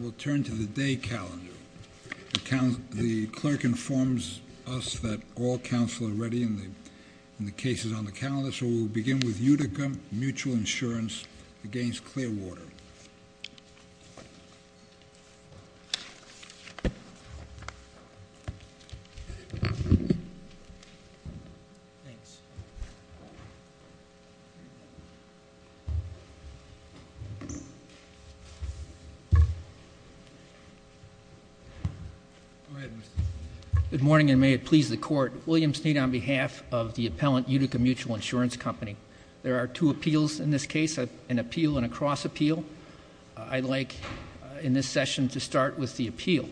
We'll turn to the day calendar. The clerk informs us that all counsel are ready in the cases on the calendar, so we'll begin with Utica Mutual Insurance against Clearwater. Good morning, and may it please the court. William Snead on behalf of the appellant Utica Mutual Insurance Company. There are two appeals in this case, an appeal and a cross appeal. I'd like in this session to start with the appeal,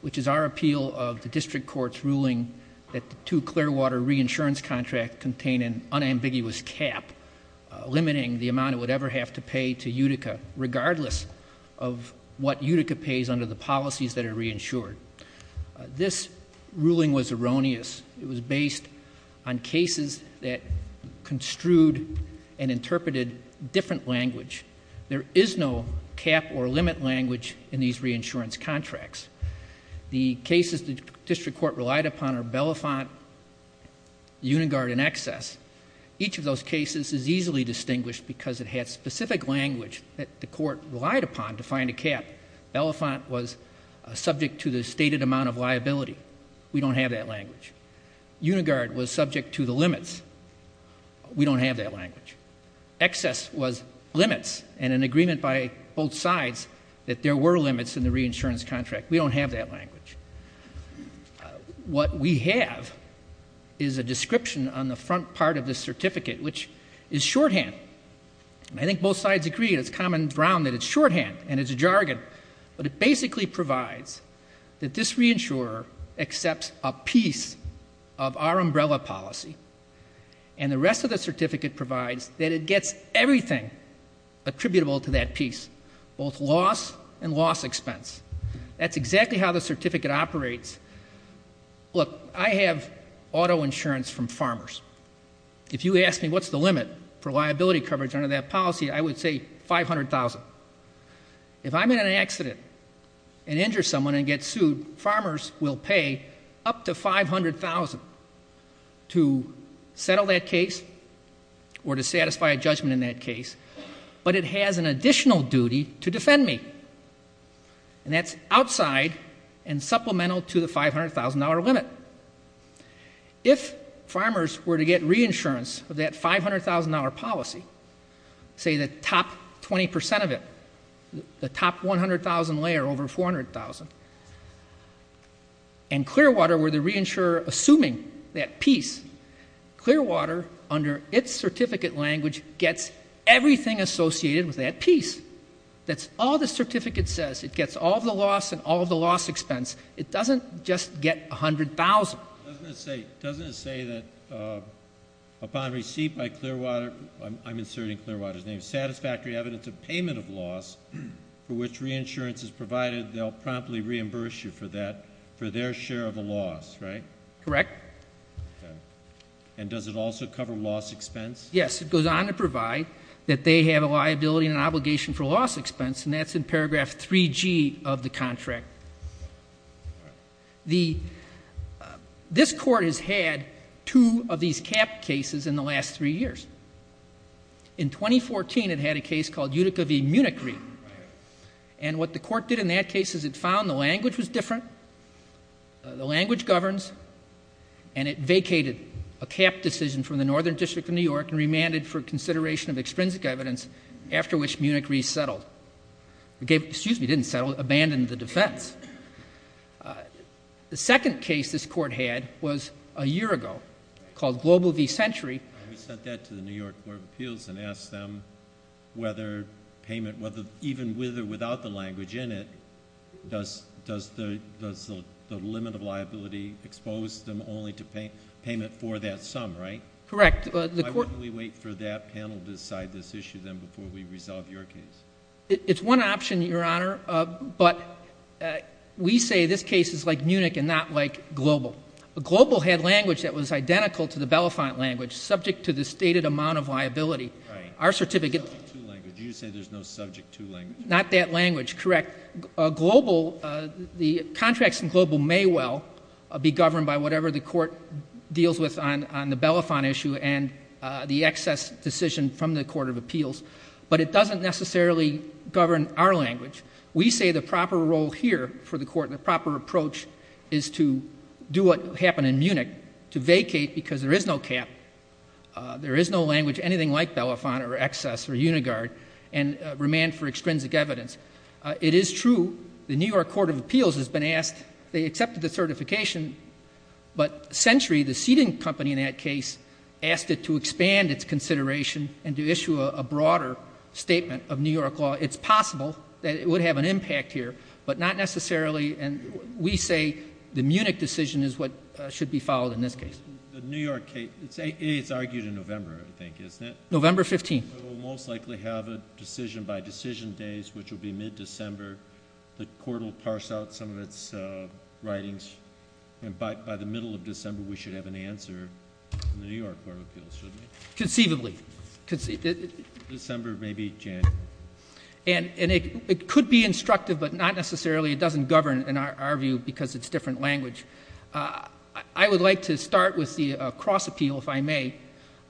which is our appeal of the district court's ruling that the two Clearwater reinsurance contracts contain an unambiguous cap, limiting the amount it would ever have to pay to Utica, regardless of whether or not it's a mutual insurance company. What Utica pays under the policies that are reinsured. This ruling was erroneous. It was based on cases that construed and interpreted different language. There is no cap or limit language in these reinsurance contracts. The cases the district court relied upon are Belafonte, Unigard, and Excess. Each of those cases is easily distinguished because it had specific language that the court relied upon to find a cap. Belafonte was subject to the stated amount of liability. We don't have that language. Unigard was subject to the limits. We don't have that language. Excess was limits and an agreement by both sides that there were limits in the reinsurance contract. We don't have that language. What we have is a description on the front part of this certificate, which is shorthand. I think both sides agree. It's common ground that it's shorthand and it's a jargon. But it basically provides that this reinsurer accepts a piece of our umbrella policy and the rest of the certificate provides that it gets everything attributable to that piece, both loss and loss expense. That's exactly how the certificate operates. Look, I have auto insurance from farmers. If you ask me what's the limit for liability coverage under that policy, I would say $500,000. If I'm in an accident and injure someone and get sued, farmers will pay up to $500,000 to settle that case or to satisfy a judgment in that case. But it has an additional duty to defend me. And that's outside and supplemental to the $500,000 limit. If farmers were to get reinsurance of that $500,000 policy, say the top 20% of it, the top 100,000 layer over 400,000, and Clearwater were the reinsurer assuming that piece, Clearwater, under its certificate language, gets everything associated with that piece. That's all the certificate says. It gets all of the loss and all of the loss expense. It doesn't just get $100,000. Doesn't it say that upon receipt by Clearwater, I'm inserting Clearwater's name, satisfactory evidence of payment of loss for which reinsurance is provided, they'll promptly reimburse you for that, for their share of the loss, right? Correct. And does it also cover loss expense? Yes. It goes on to provide that they have a liability and an obligation for loss expense, and that's in paragraph 3G of the contract. This Court has had two of these capped cases in the last three years. In 2014, it had a case called Utica v. Munich Re. And what the Court did in that case is it found the language was different, the language governs, and it vacated a capped decision from the Northern District of New York and remanded for consideration of extrinsic evidence after which Munich Re settled. Excuse me, didn't settle. Abandoned the defense. The second case this Court had was a year ago called Global v. Century. We sent that to the New York Court of Appeals and asked them whether payment, even with or without the language in it, does the limit of liability expose them only to payment for that sum, right? Correct. Why wouldn't we wait for that panel to decide this issue, then, before we resolve your case? It's one option, Your Honor, but we say this case is like Munich and not like Global. Global had language that was identical to the Belafonte language, subject to the stated amount of liability. Right. Our certificate— There's no subject to language. Not that language, correct. Global—the contracts in Global may well be governed by whatever the Court deals with on the Belafonte issue and the excess decision from the Court of Appeals, but it doesn't necessarily govern our language. We say the proper role here for the Court, the proper approach, is to do what happened in Munich, to vacate because there is no cap, there is no language, anything like Belafonte or excess or unigard, and remand for extrinsic evidence. It is true the New York Court of Appeals has been asked—they accepted the certification, but Century, the seating company in that case, asked it to expand its consideration and to issue a broader statement of New York law. It's possible that it would have an impact here, but not necessarily—and we say the Munich decision is what should be followed in this case. The New York case—it's argued in November, I think, isn't it? November 15. We'll most likely have a decision by decision days, which will be mid-December. The Court will parse out some of its writings, and by the middle of December, we should have an answer in the New York Court of Appeals, shouldn't we? Conceivably. December, maybe January. And it could be instructive, but not necessarily—it doesn't govern, in our view, because it's different language. I would like to start with the cross-appeal, if I may,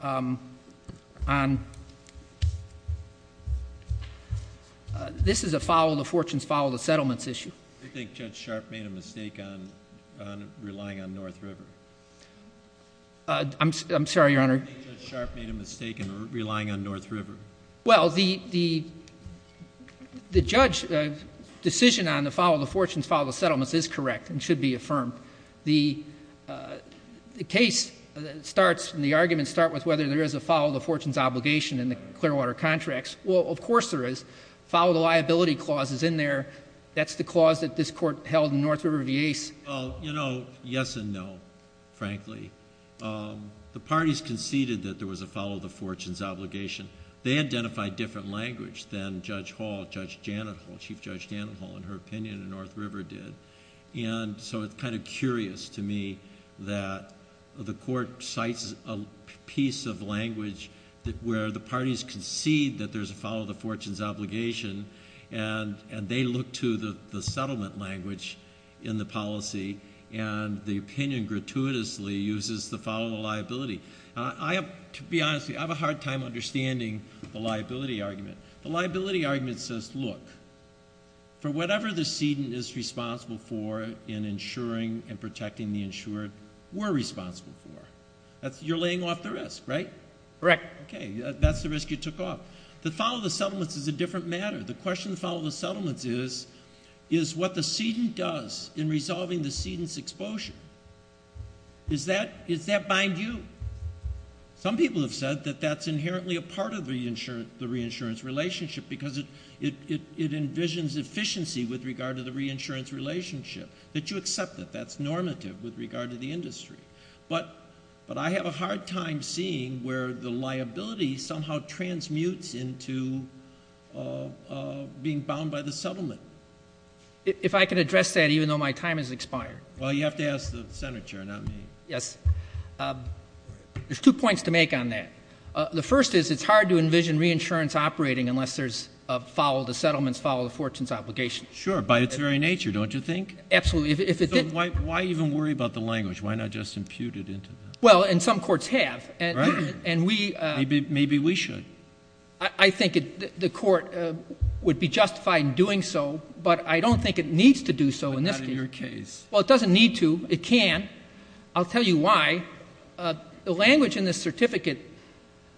on—this is a follow-the-fortunes, follow-the-settlements issue. I think Judge Sharp made a mistake on relying on North River. I'm sorry, Your Honor. I think Judge Sharp made a mistake in relying on North River. Well, the judge's decision on the follow-the-fortunes, follow-the-settlements is correct and should be affirmed. The case starts—the arguments start with whether there is a follow-the-fortunes obligation in the Clearwater contracts. Well, of course there is. Follow-the-liability clause is in there. That's the clause that this Court held in North River v. Ace. Well, you know, yes and no, frankly. The parties conceded that there was a follow-the-fortunes obligation. They identified different language than Judge Hall, Judge Janet Hall, Chief Judge Janet Hall, in her opinion, and North River did. And so it's kind of curious to me that the Court cites a piece of language where the parties concede that there's a follow-the-fortunes obligation, and they look to the settlement language in the policy, and the opinion gratuitously uses the follow-the-liability. I have—to be honest with you, I have a hard time understanding the liability argument. The liability argument says, look, for whatever the sedent is responsible for in insuring and protecting the insured, we're responsible for. You're laying off the risk, right? Correct. Okay, that's the risk you took off. The follow-the-settlements is a different matter. The question of follow-the-settlements is, is what the sedent does in resolving the sedent's exposure. Does that bind you? Some people have said that that's inherently a part of the reinsurance relationship because it envisions efficiency with regard to the reinsurance relationship, that you accept it. But I have a hard time seeing where the liability somehow transmutes into being bound by the settlement. If I could address that, even though my time has expired. Well, you have to ask the senator, not me. Yes. There's two points to make on that. The first is it's hard to envision reinsurance operating unless there's a follow-the-settlements, follow-the-fortunes obligation. Sure, by its very nature, don't you think? Absolutely. Why even worry about the language? Why not just impute it into that? Well, and some courts have. Right. Maybe we should. I think the court would be justified in doing so, but I don't think it needs to do so in this case. But not in your case. Well, it doesn't need to. It can. I'll tell you why. The language in this certificate,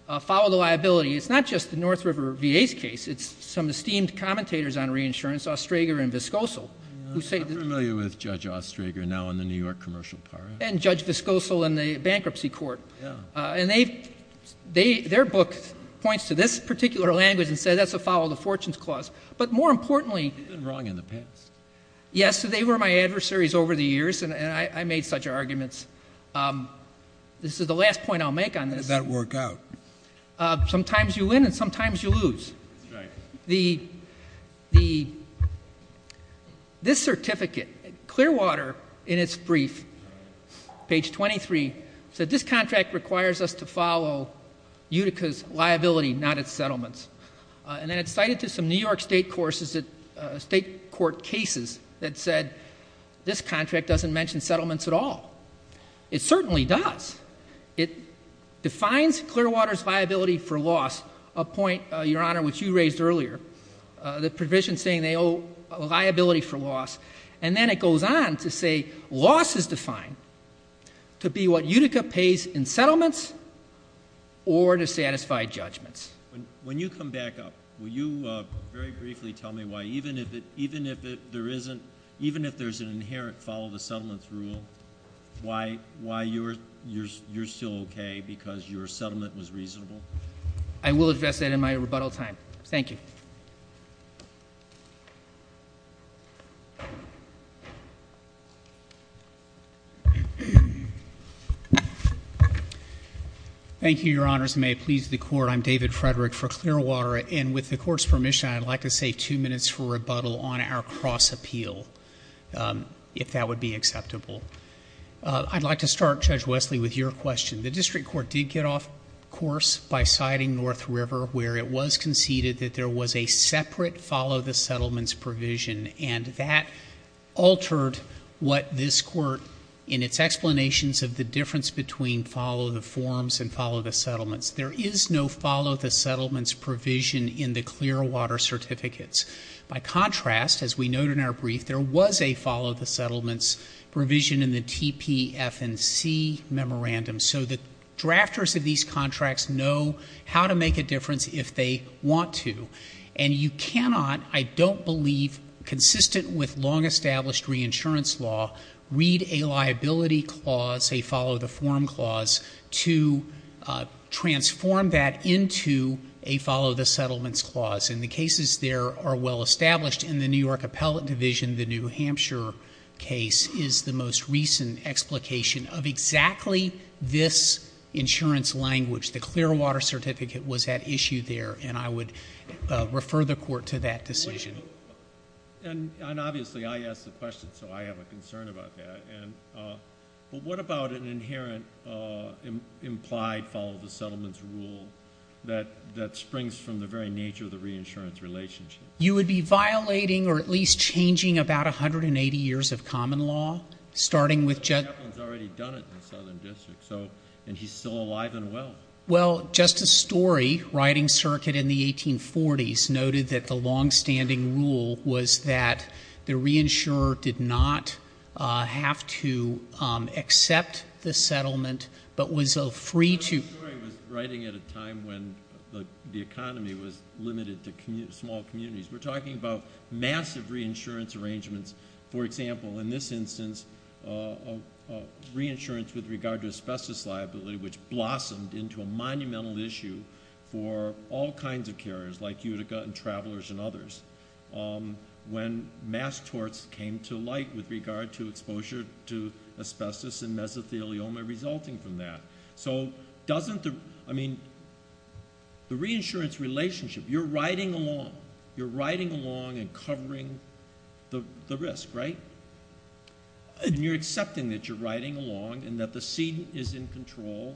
follow-the-liability, it's not just the North River VA's case. It's some esteemed commentators on reinsurance, Ostrager and Viscosal. I'm familiar with Judge Ostrager now in the New York commercial part. And Judge Viscosal in the bankruptcy court. Yeah. And their book points to this particular language and says that's a follow-the-fortunes clause. But more importantly. It's been wrong in the past. Yes, they were my adversaries over the years, and I made such arguments. This is the last point I'll make on this. How does that work out? Sometimes you win and sometimes you lose. That's right. This certificate, Clearwater, in its brief, page 23, said this contract requires us to follow Utica's liability, not its settlements. And then it's cited to some New York state court cases that said this contract doesn't mention settlements at all. It certainly does. It defines Clearwater's liability for loss, a point, Your Honor, which you raised earlier, the provision saying they owe liability for loss. And then it goes on to say loss is defined to be what Utica pays in settlements or to satisfy judgments. When you come back up, will you very briefly tell me why, even if there's an inherent follow-the-settlements rule, why you're still okay because your settlement was reasonable? I will address that in my rebuttal time. Thank you. Thank you, Your Honors. And may it please the Court, I'm David Frederick for Clearwater. And with the Court's permission, I'd like to save two minutes for rebuttal on our cross-appeal, if that would be acceptable. I'd like to start, Judge Wesley, with your question. The district court did get off course by citing North River, where it was conceded that there was a separate follow-the-settlements provision. And that altered what this court, in its explanations of the difference between follow-the-forms and follow-the-settlements, there is no follow-the-settlements provision in the Clearwater certificates. By contrast, as we note in our brief, there was a follow-the-settlements provision in the TPF&C memorandum. So the drafters of these contracts know how to make a difference if they want to. And you cannot, I don't believe, consistent with long-established reinsurance law, read a liability clause, a follow-the-form clause, to transform that into a follow-the-settlements clause. And the cases there are well established. In the New York Appellate Division, the New Hampshire case is the most recent explication of exactly this insurance language. The Clearwater certificate was at issue there, and I would refer the Court to that decision. And obviously, I asked the question, so I have a concern about that. But what about an inherent implied follow-the-settlements rule that springs from the very nature of the reinsurance relationship? You would be violating or at least changing about 180 years of common law, starting with Jet— But Jetlin's already done it in the Southern District, and he's still alive and well. Well, Justice Story, writing circuit in the 1840s, noted that the longstanding rule was that the reinsurer did not have to accept the settlement but was free to— Justice Story was writing at a time when the economy was limited to small communities. We're talking about massive reinsurance arrangements. For example, in this instance, reinsurance with regard to asbestos liability, which blossomed into a monumental issue for all kinds of carriers, like Utica and Travelers and others, when mass torts came to light with regard to exposure to asbestos and mesothelioma resulting from that. So doesn't the—I mean, the reinsurance relationship, you're riding along. You're riding along and covering the risk, right? And you're accepting that you're riding along and that the seat is in control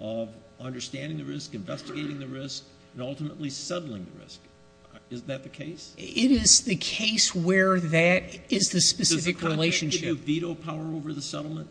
of understanding the risk, investigating the risk, and ultimately settling the risk. Is that the case? It is the case where that is the specific relationship. Does the contract give veto power over the settlement?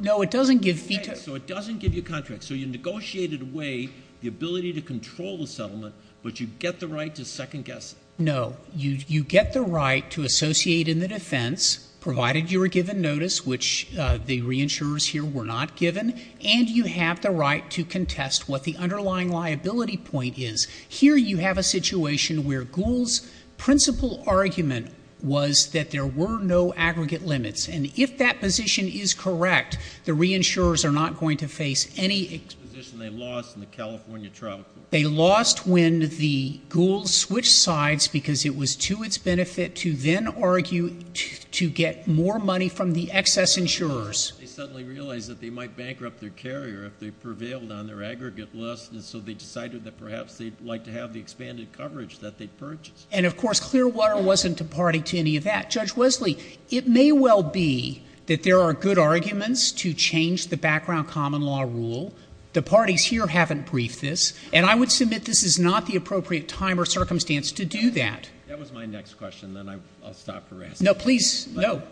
No, it doesn't give veto— Right, so it doesn't give you contracts. So you negotiated away the ability to control the settlement, but you get the right to second-guess it. No. You get the right to associate in the defense, provided you were given notice, which the reinsurers here were not given, and you have the right to contest what the underlying liability point is. Here you have a situation where Gould's principal argument was that there were no aggregate limits. And if that position is correct, the reinsurers are not going to face any— The position they lost in the California trial court. They lost when the Goulds switched sides because it was to its benefit to then argue to get more money from the excess insurers. They suddenly realized that they might bankrupt their carrier if they prevailed on their aggregate list, and so they decided that perhaps they'd like to have the expanded coverage that they purchased. And, of course, Clearwater wasn't a party to any of that. Judge Wesley, it may well be that there are good arguments to change the background common law rule. The parties here haven't briefed this, and I would submit this is not the appropriate time or circumstance to do that. That was my next question. Then I'll stop harassing you. No, please. No.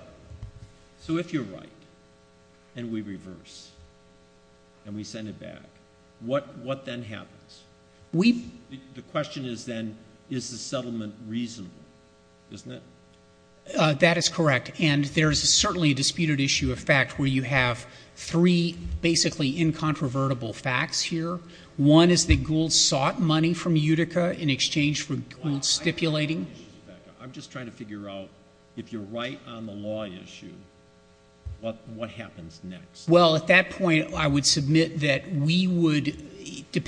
So if you're right and we reverse and we send it back, what then happens? We— The question is then, is the settlement reasonable? Isn't it? That is correct, and there is certainly a disputed issue of fact where you have three basically incontrovertible facts here. One is that Goulds sought money from Utica in exchange for Goulds stipulating. I'm just trying to figure out if you're right on the law issue, what happens next? Well, at that point, I would submit that we would— We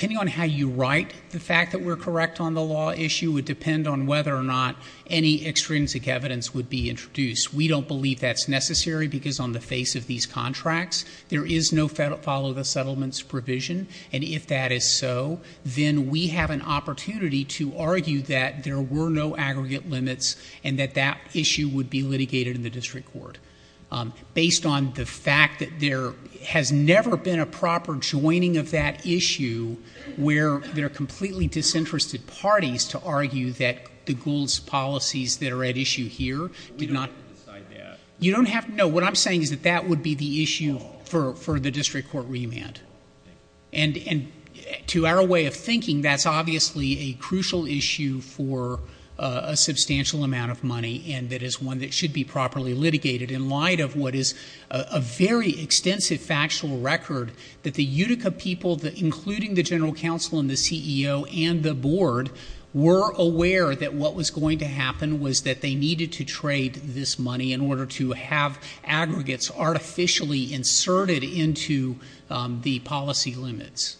don't believe that's necessary because on the face of these contracts, there is no follow the settlements provision, and if that is so, then we have an opportunity to argue that there were no aggregate limits and that that issue would be litigated in the district court. Based on the fact that there has never been a proper joining of that issue where there are completely disinterested parties to argue that the Goulds policies that are at issue here did not— But we don't have to decide that. You don't have to. No, what I'm saying is that that would be the issue for the district court remand. And to our way of thinking, that's obviously a crucial issue for a substantial amount of money and that is one that should be properly litigated in light of what is a very extensive factual record that the Utica people, including the general counsel and the CEO and the board, were aware that what was going to happen was that they needed to trade this money in order to have aggregates artificially inserted into the policy limits.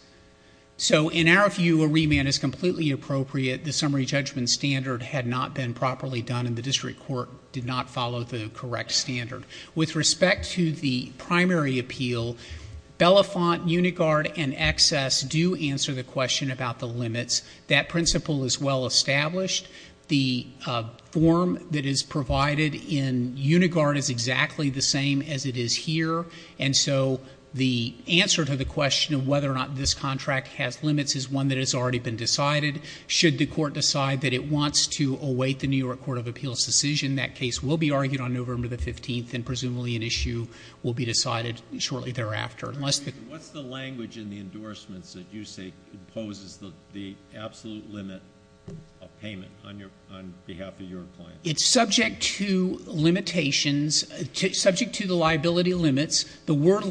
So in our view, a remand is completely appropriate. The summary judgment standard had not been properly done and the district court did not follow the correct standard. With respect to the primary appeal, Belafonte, Unigard, and Excess do answer the question about the limits. That principle is well established. The form that is provided in Unigard is exactly the same as it is here, and so the answer to the question of whether or not this contract has limits is one that has already been decided. Should the court decide that it wants to await the New York Court of Appeals' decision, that case will be argued on November 15th and presumably an issue will be decided shortly thereafter. What's the language in the endorsements that you say imposes the absolute limit of payment on behalf of your client? It's subject to limitations, subject to the liability limits. The word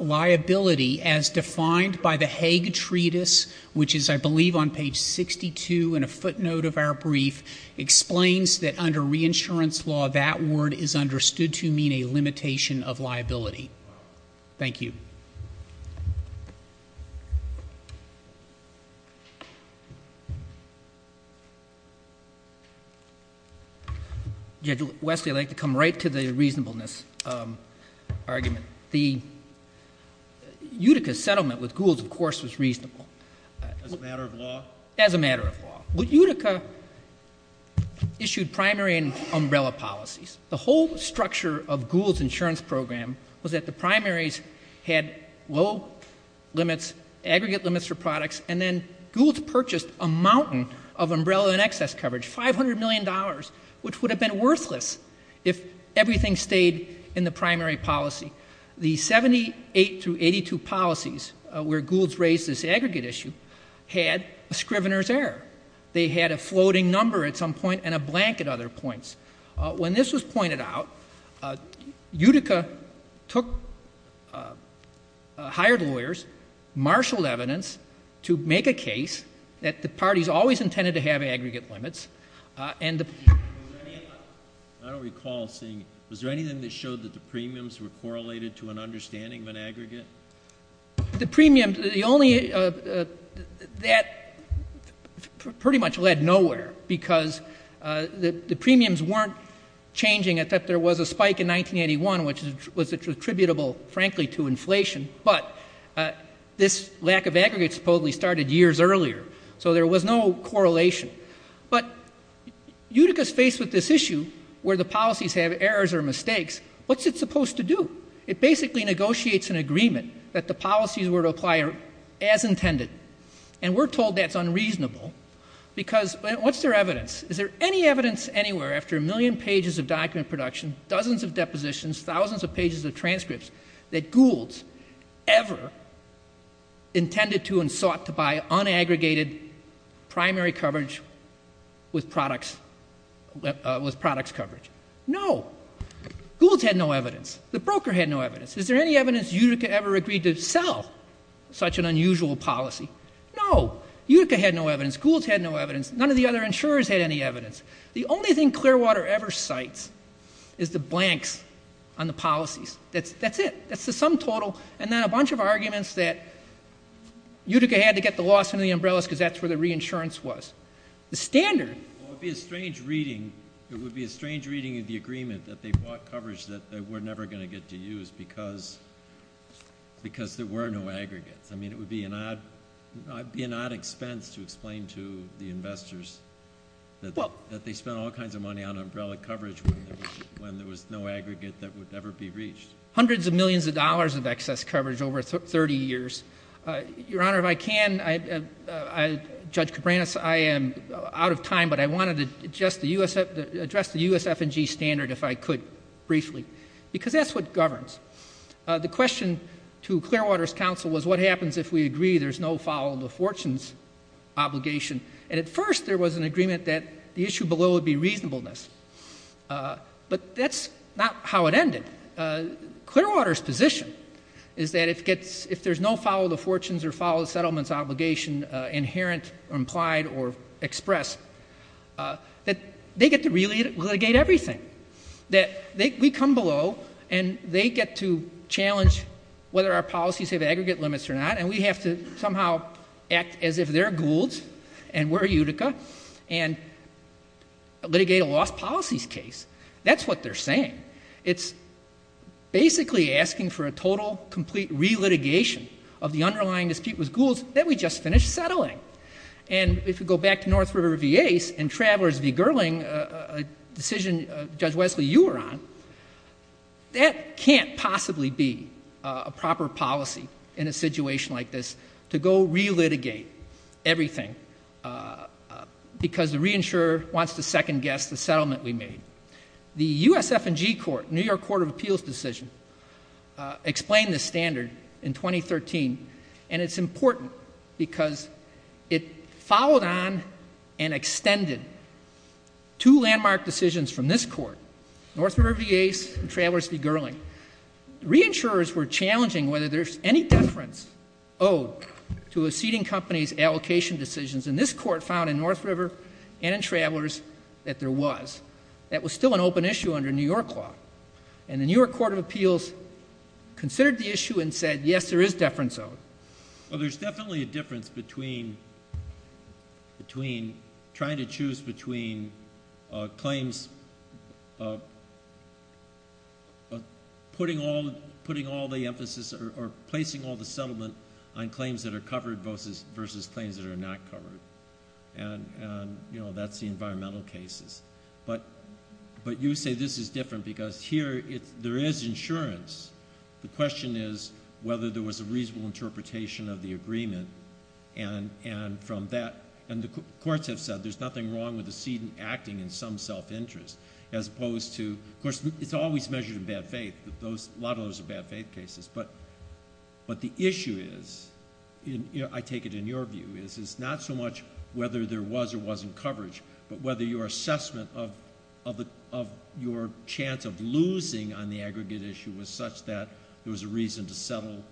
liability as defined by the Hague Treatise, which is, I believe, on page 62 in a footnote of our brief, explains that under reinsurance law that word is understood to mean a limitation of liability. Thank you. Judge Wesley, I'd like to come right to the reasonableness argument. The Utica settlement with Goulds, of course, was reasonable. As a matter of law? As a matter of law. Utica issued primary and umbrella policies. The whole structure of Goulds' insurance program was that the primaries had low limits, aggregate limits for products, and then Goulds purchased a mountain of umbrella and excess coverage, $500 million, which would have been worthless if everything stayed in the primary policy. The 78 through 82 policies where Goulds raised this aggregate issue had a scrivener's error. They had a floating number at some point and a blank at other points. When this was pointed out, Utica hired lawyers, marshaled evidence to make a case that the parties always intended to have aggregate limits. I don't recall seeing it. Was there anything that showed that the premiums were correlated to an understanding of an aggregate? The premiums, the only, that pretty much led nowhere, because the premiums weren't changing except there was a spike in 1981, which was attributable, frankly, to inflation. But this lack of aggregate supposedly started years earlier, so there was no correlation. But Utica's faced with this issue where the policies have errors or mistakes. What's it supposed to do? It basically negotiates an agreement that the policies were to apply as intended, and we're told that's unreasonable because what's their evidence? Is there any evidence anywhere after a million pages of document production, dozens of depositions, thousands of pages of transcripts, that Goulds ever intended to and sought to buy unaggregated primary coverage with products coverage? No. Goulds had no evidence. The broker had no evidence. Is there any evidence Utica ever agreed to sell such an unusual policy? No. Utica had no evidence. Goulds had no evidence. None of the other insurers had any evidence. The only thing Clearwater ever cites is the blanks on the policies. That's it. That's the sum total, and then a bunch of arguments that Utica had to get the loss under the umbrellas because that's where the reinsurance was. The standard. It would be a strange reading of the agreement that they bought coverage that they were never going to get to use because there were no aggregates. I mean, it would be an odd expense to explain to the investors that they spent all kinds of money on umbrella coverage when there was no aggregate that would ever be reached. Hundreds of millions of dollars of excess coverage over 30 years. Your Honor, if I can, Judge Cabranes, I am out of time, but I wanted to address the USF&G standard if I could briefly because that's what governs. The question to Clearwater's counsel was what happens if we agree there's no follow of the fortunes obligation? And at first there was an agreement that the issue below would be reasonableness. But that's not how it ended. Clearwater's position is that if there's no follow of the fortunes or follow of the settlements obligation inherent or implied or expressed, that they get to really litigate everything. We come below, and they get to challenge whether our policies have aggregate limits or not, and we have to somehow act as if they're Goulds and we're Utica and litigate a lost policies case. That's what they're saying. It's basically asking for a total, complete re-litigation of the underlying dispute with Goulds that we just finished settling. And if you go back to North River v. Ace and Travelers v. Gerling, a decision, Judge Wesley, you were on, that can't possibly be a proper policy in a situation like this to go re-litigate everything because the reinsurer wants to second-guess the settlement we made. The USF&G court, New York Court of Appeals decision, explained this standard in 2013, and it's important because it followed on and extended two landmark decisions from this court, North River v. Ace and Travelers v. Gerling. Reinsurers were challenging whether there's any deference owed to a seating company's allocation decisions, and this court found in North River and in Travelers that there was. That was still an open issue under New York law. And the New York Court of Appeals considered the issue and said, yes, there is deference owed. Well, there's definitely a difference between trying to choose between claims of putting all the emphasis or placing all the settlement on claims that are covered versus claims that are not covered. And, you know, that's the environmental cases. But you say this is different because here there is insurance. The question is whether there was a reasonable interpretation of the agreement. And from that, and the courts have said there's nothing wrong with the seating acting in some self-interest, as opposed to, of course, it's always measured in bad faith. A lot of those are bad faith cases. But the issue is, I take it in your view, is it's not so much whether there was or wasn't coverage, but whether your assessment of your chance of losing on the aggregate issue was such that there was a reason to settle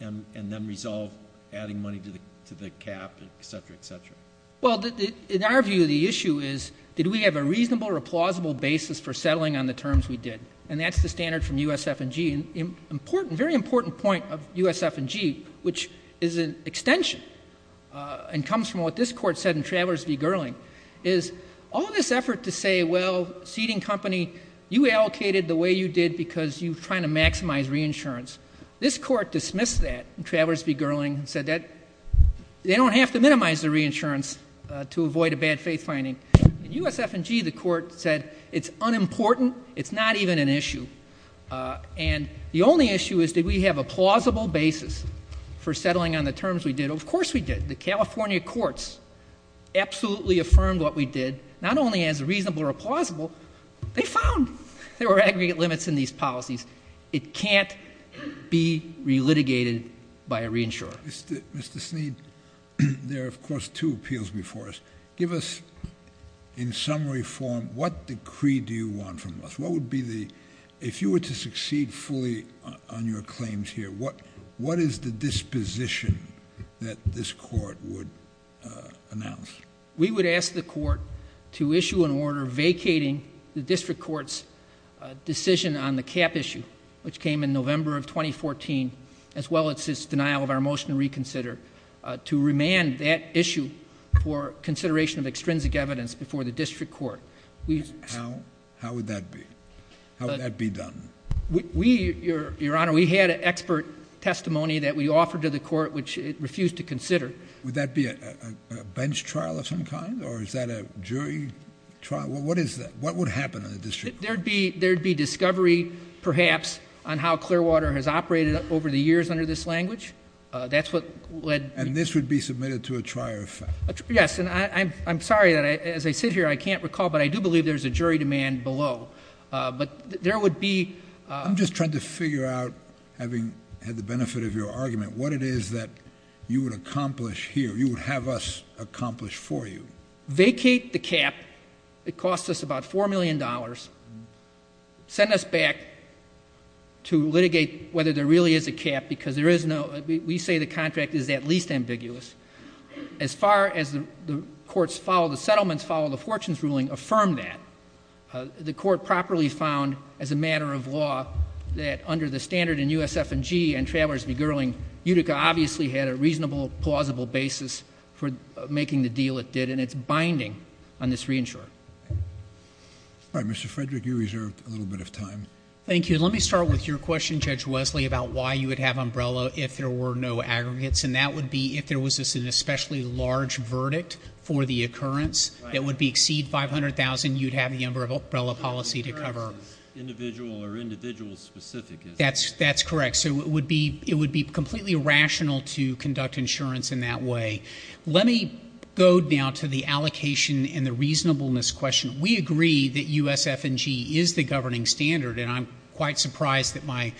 and then resolve adding money to the cap, et cetera, et cetera. Well, in our view, the issue is, did we have a reasonable or plausible basis for settling on the terms we did? And that's the standard from USF&G. An important, very important point of USF&G, which is an extension and comes from what this court said in Travers v. Gerling, is all this effort to say, well, seating company, you allocated the way you did because you were trying to maximize reinsurance. This court dismissed that in Travers v. Gerling and said that they don't have to minimize the reinsurance to avoid a bad faith finding. In USF&G, the court said it's unimportant, it's not even an issue. And the only issue is, did we have a plausible basis for settling on the terms we did? Of course we did. The California courts absolutely affirmed what we did, not only as a reasonable or a plausible, they found there were aggregate limits in these policies. It can't be relitigated by a reinsurer. Mr. Snead, there are, of course, two appeals before us. Give us, in summary form, what decree do you want from us? If you were to succeed fully on your claims here, what is the disposition that this court would announce? We would ask the court to issue an order vacating the district court's decision on the cap issue, which came in November of 2014, as well as its denial of our motion to reconsider, to remand that issue for consideration of extrinsic evidence before the district court. How would that be? How would that be done? We, Your Honor, we had an expert testimony that we offered to the court, which it refused to consider. Would that be a bench trial of some kind, or is that a jury trial? What is that? What would happen in the district court? There would be discovery, perhaps, on how Clearwater has operated over the years under this language. That's what led... And this would be submitted to a trier of facts? Yes, and I'm sorry that, as I sit here, I can't recall, but I do believe there's a jury demand below. But there would be... I'm just trying to figure out, having had the benefit of your argument, what it is that you would accomplish here, you would have us accomplish for you. Vacate the cap. It costs us about $4 million. Send us back to litigate whether there really is a cap, because there is no... We say the contract is at least ambiguous. As far as the court's follow-the-settlements, follow-the-fortunes ruling affirmed that, the court properly found, as a matter of law, that under the standard in USF&G and Travelers Be Girling, Utica obviously had a reasonable, plausible basis for making the deal it did, and it's binding on this reinsurer. All right. Mr. Frederick, you reserved a little bit of time. Thank you. Let me start with your question, Judge Wesley, about why you would have umbrella if there were no aggregates, and that would be if there was an especially large verdict for the occurrence that would exceed $500,000, you'd have the umbrella policy to cover. The occurrence is individual or individual-specific. That's correct. So it would be completely rational to conduct insurance in that way. Let me go now to the allocation and the reasonableness question. We agree that USF&G is the governing standard, and I'm quite surprised that my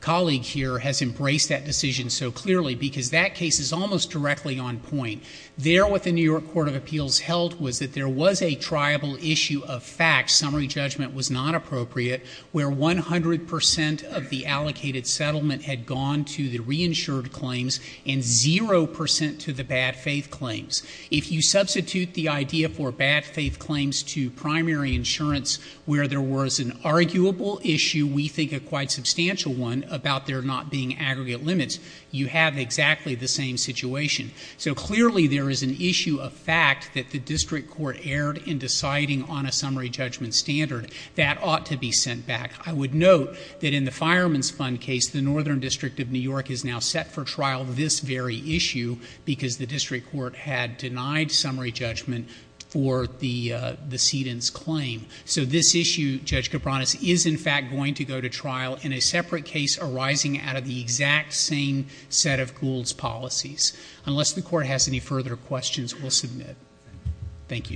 colleague here has embraced that decision so clearly, because that case is almost directly on point. There, what the New York Court of Appeals held was that there was a triable issue of facts, summary judgment was not appropriate, where 100 percent of the allocated settlement had gone to the reinsured claims and 0 percent to the bad faith claims. If you substitute the idea for bad faith claims to primary insurance where there was an arguable issue, we think a quite substantial one, about there not being aggregate limits, you have exactly the same situation. So clearly there is an issue of fact that the district court erred in deciding on a summary judgment standard. That ought to be sent back. I would note that in the Fireman's Fund case, the Northern District of New York is now set for trial this very issue because the district court had denied summary judgment for the cedent's claim. So this issue, Judge Cabranes, is in fact going to go to trial in a separate case arising out of the exact same set of Gould's policies. Unless the court has any further questions, we'll submit. Thank you.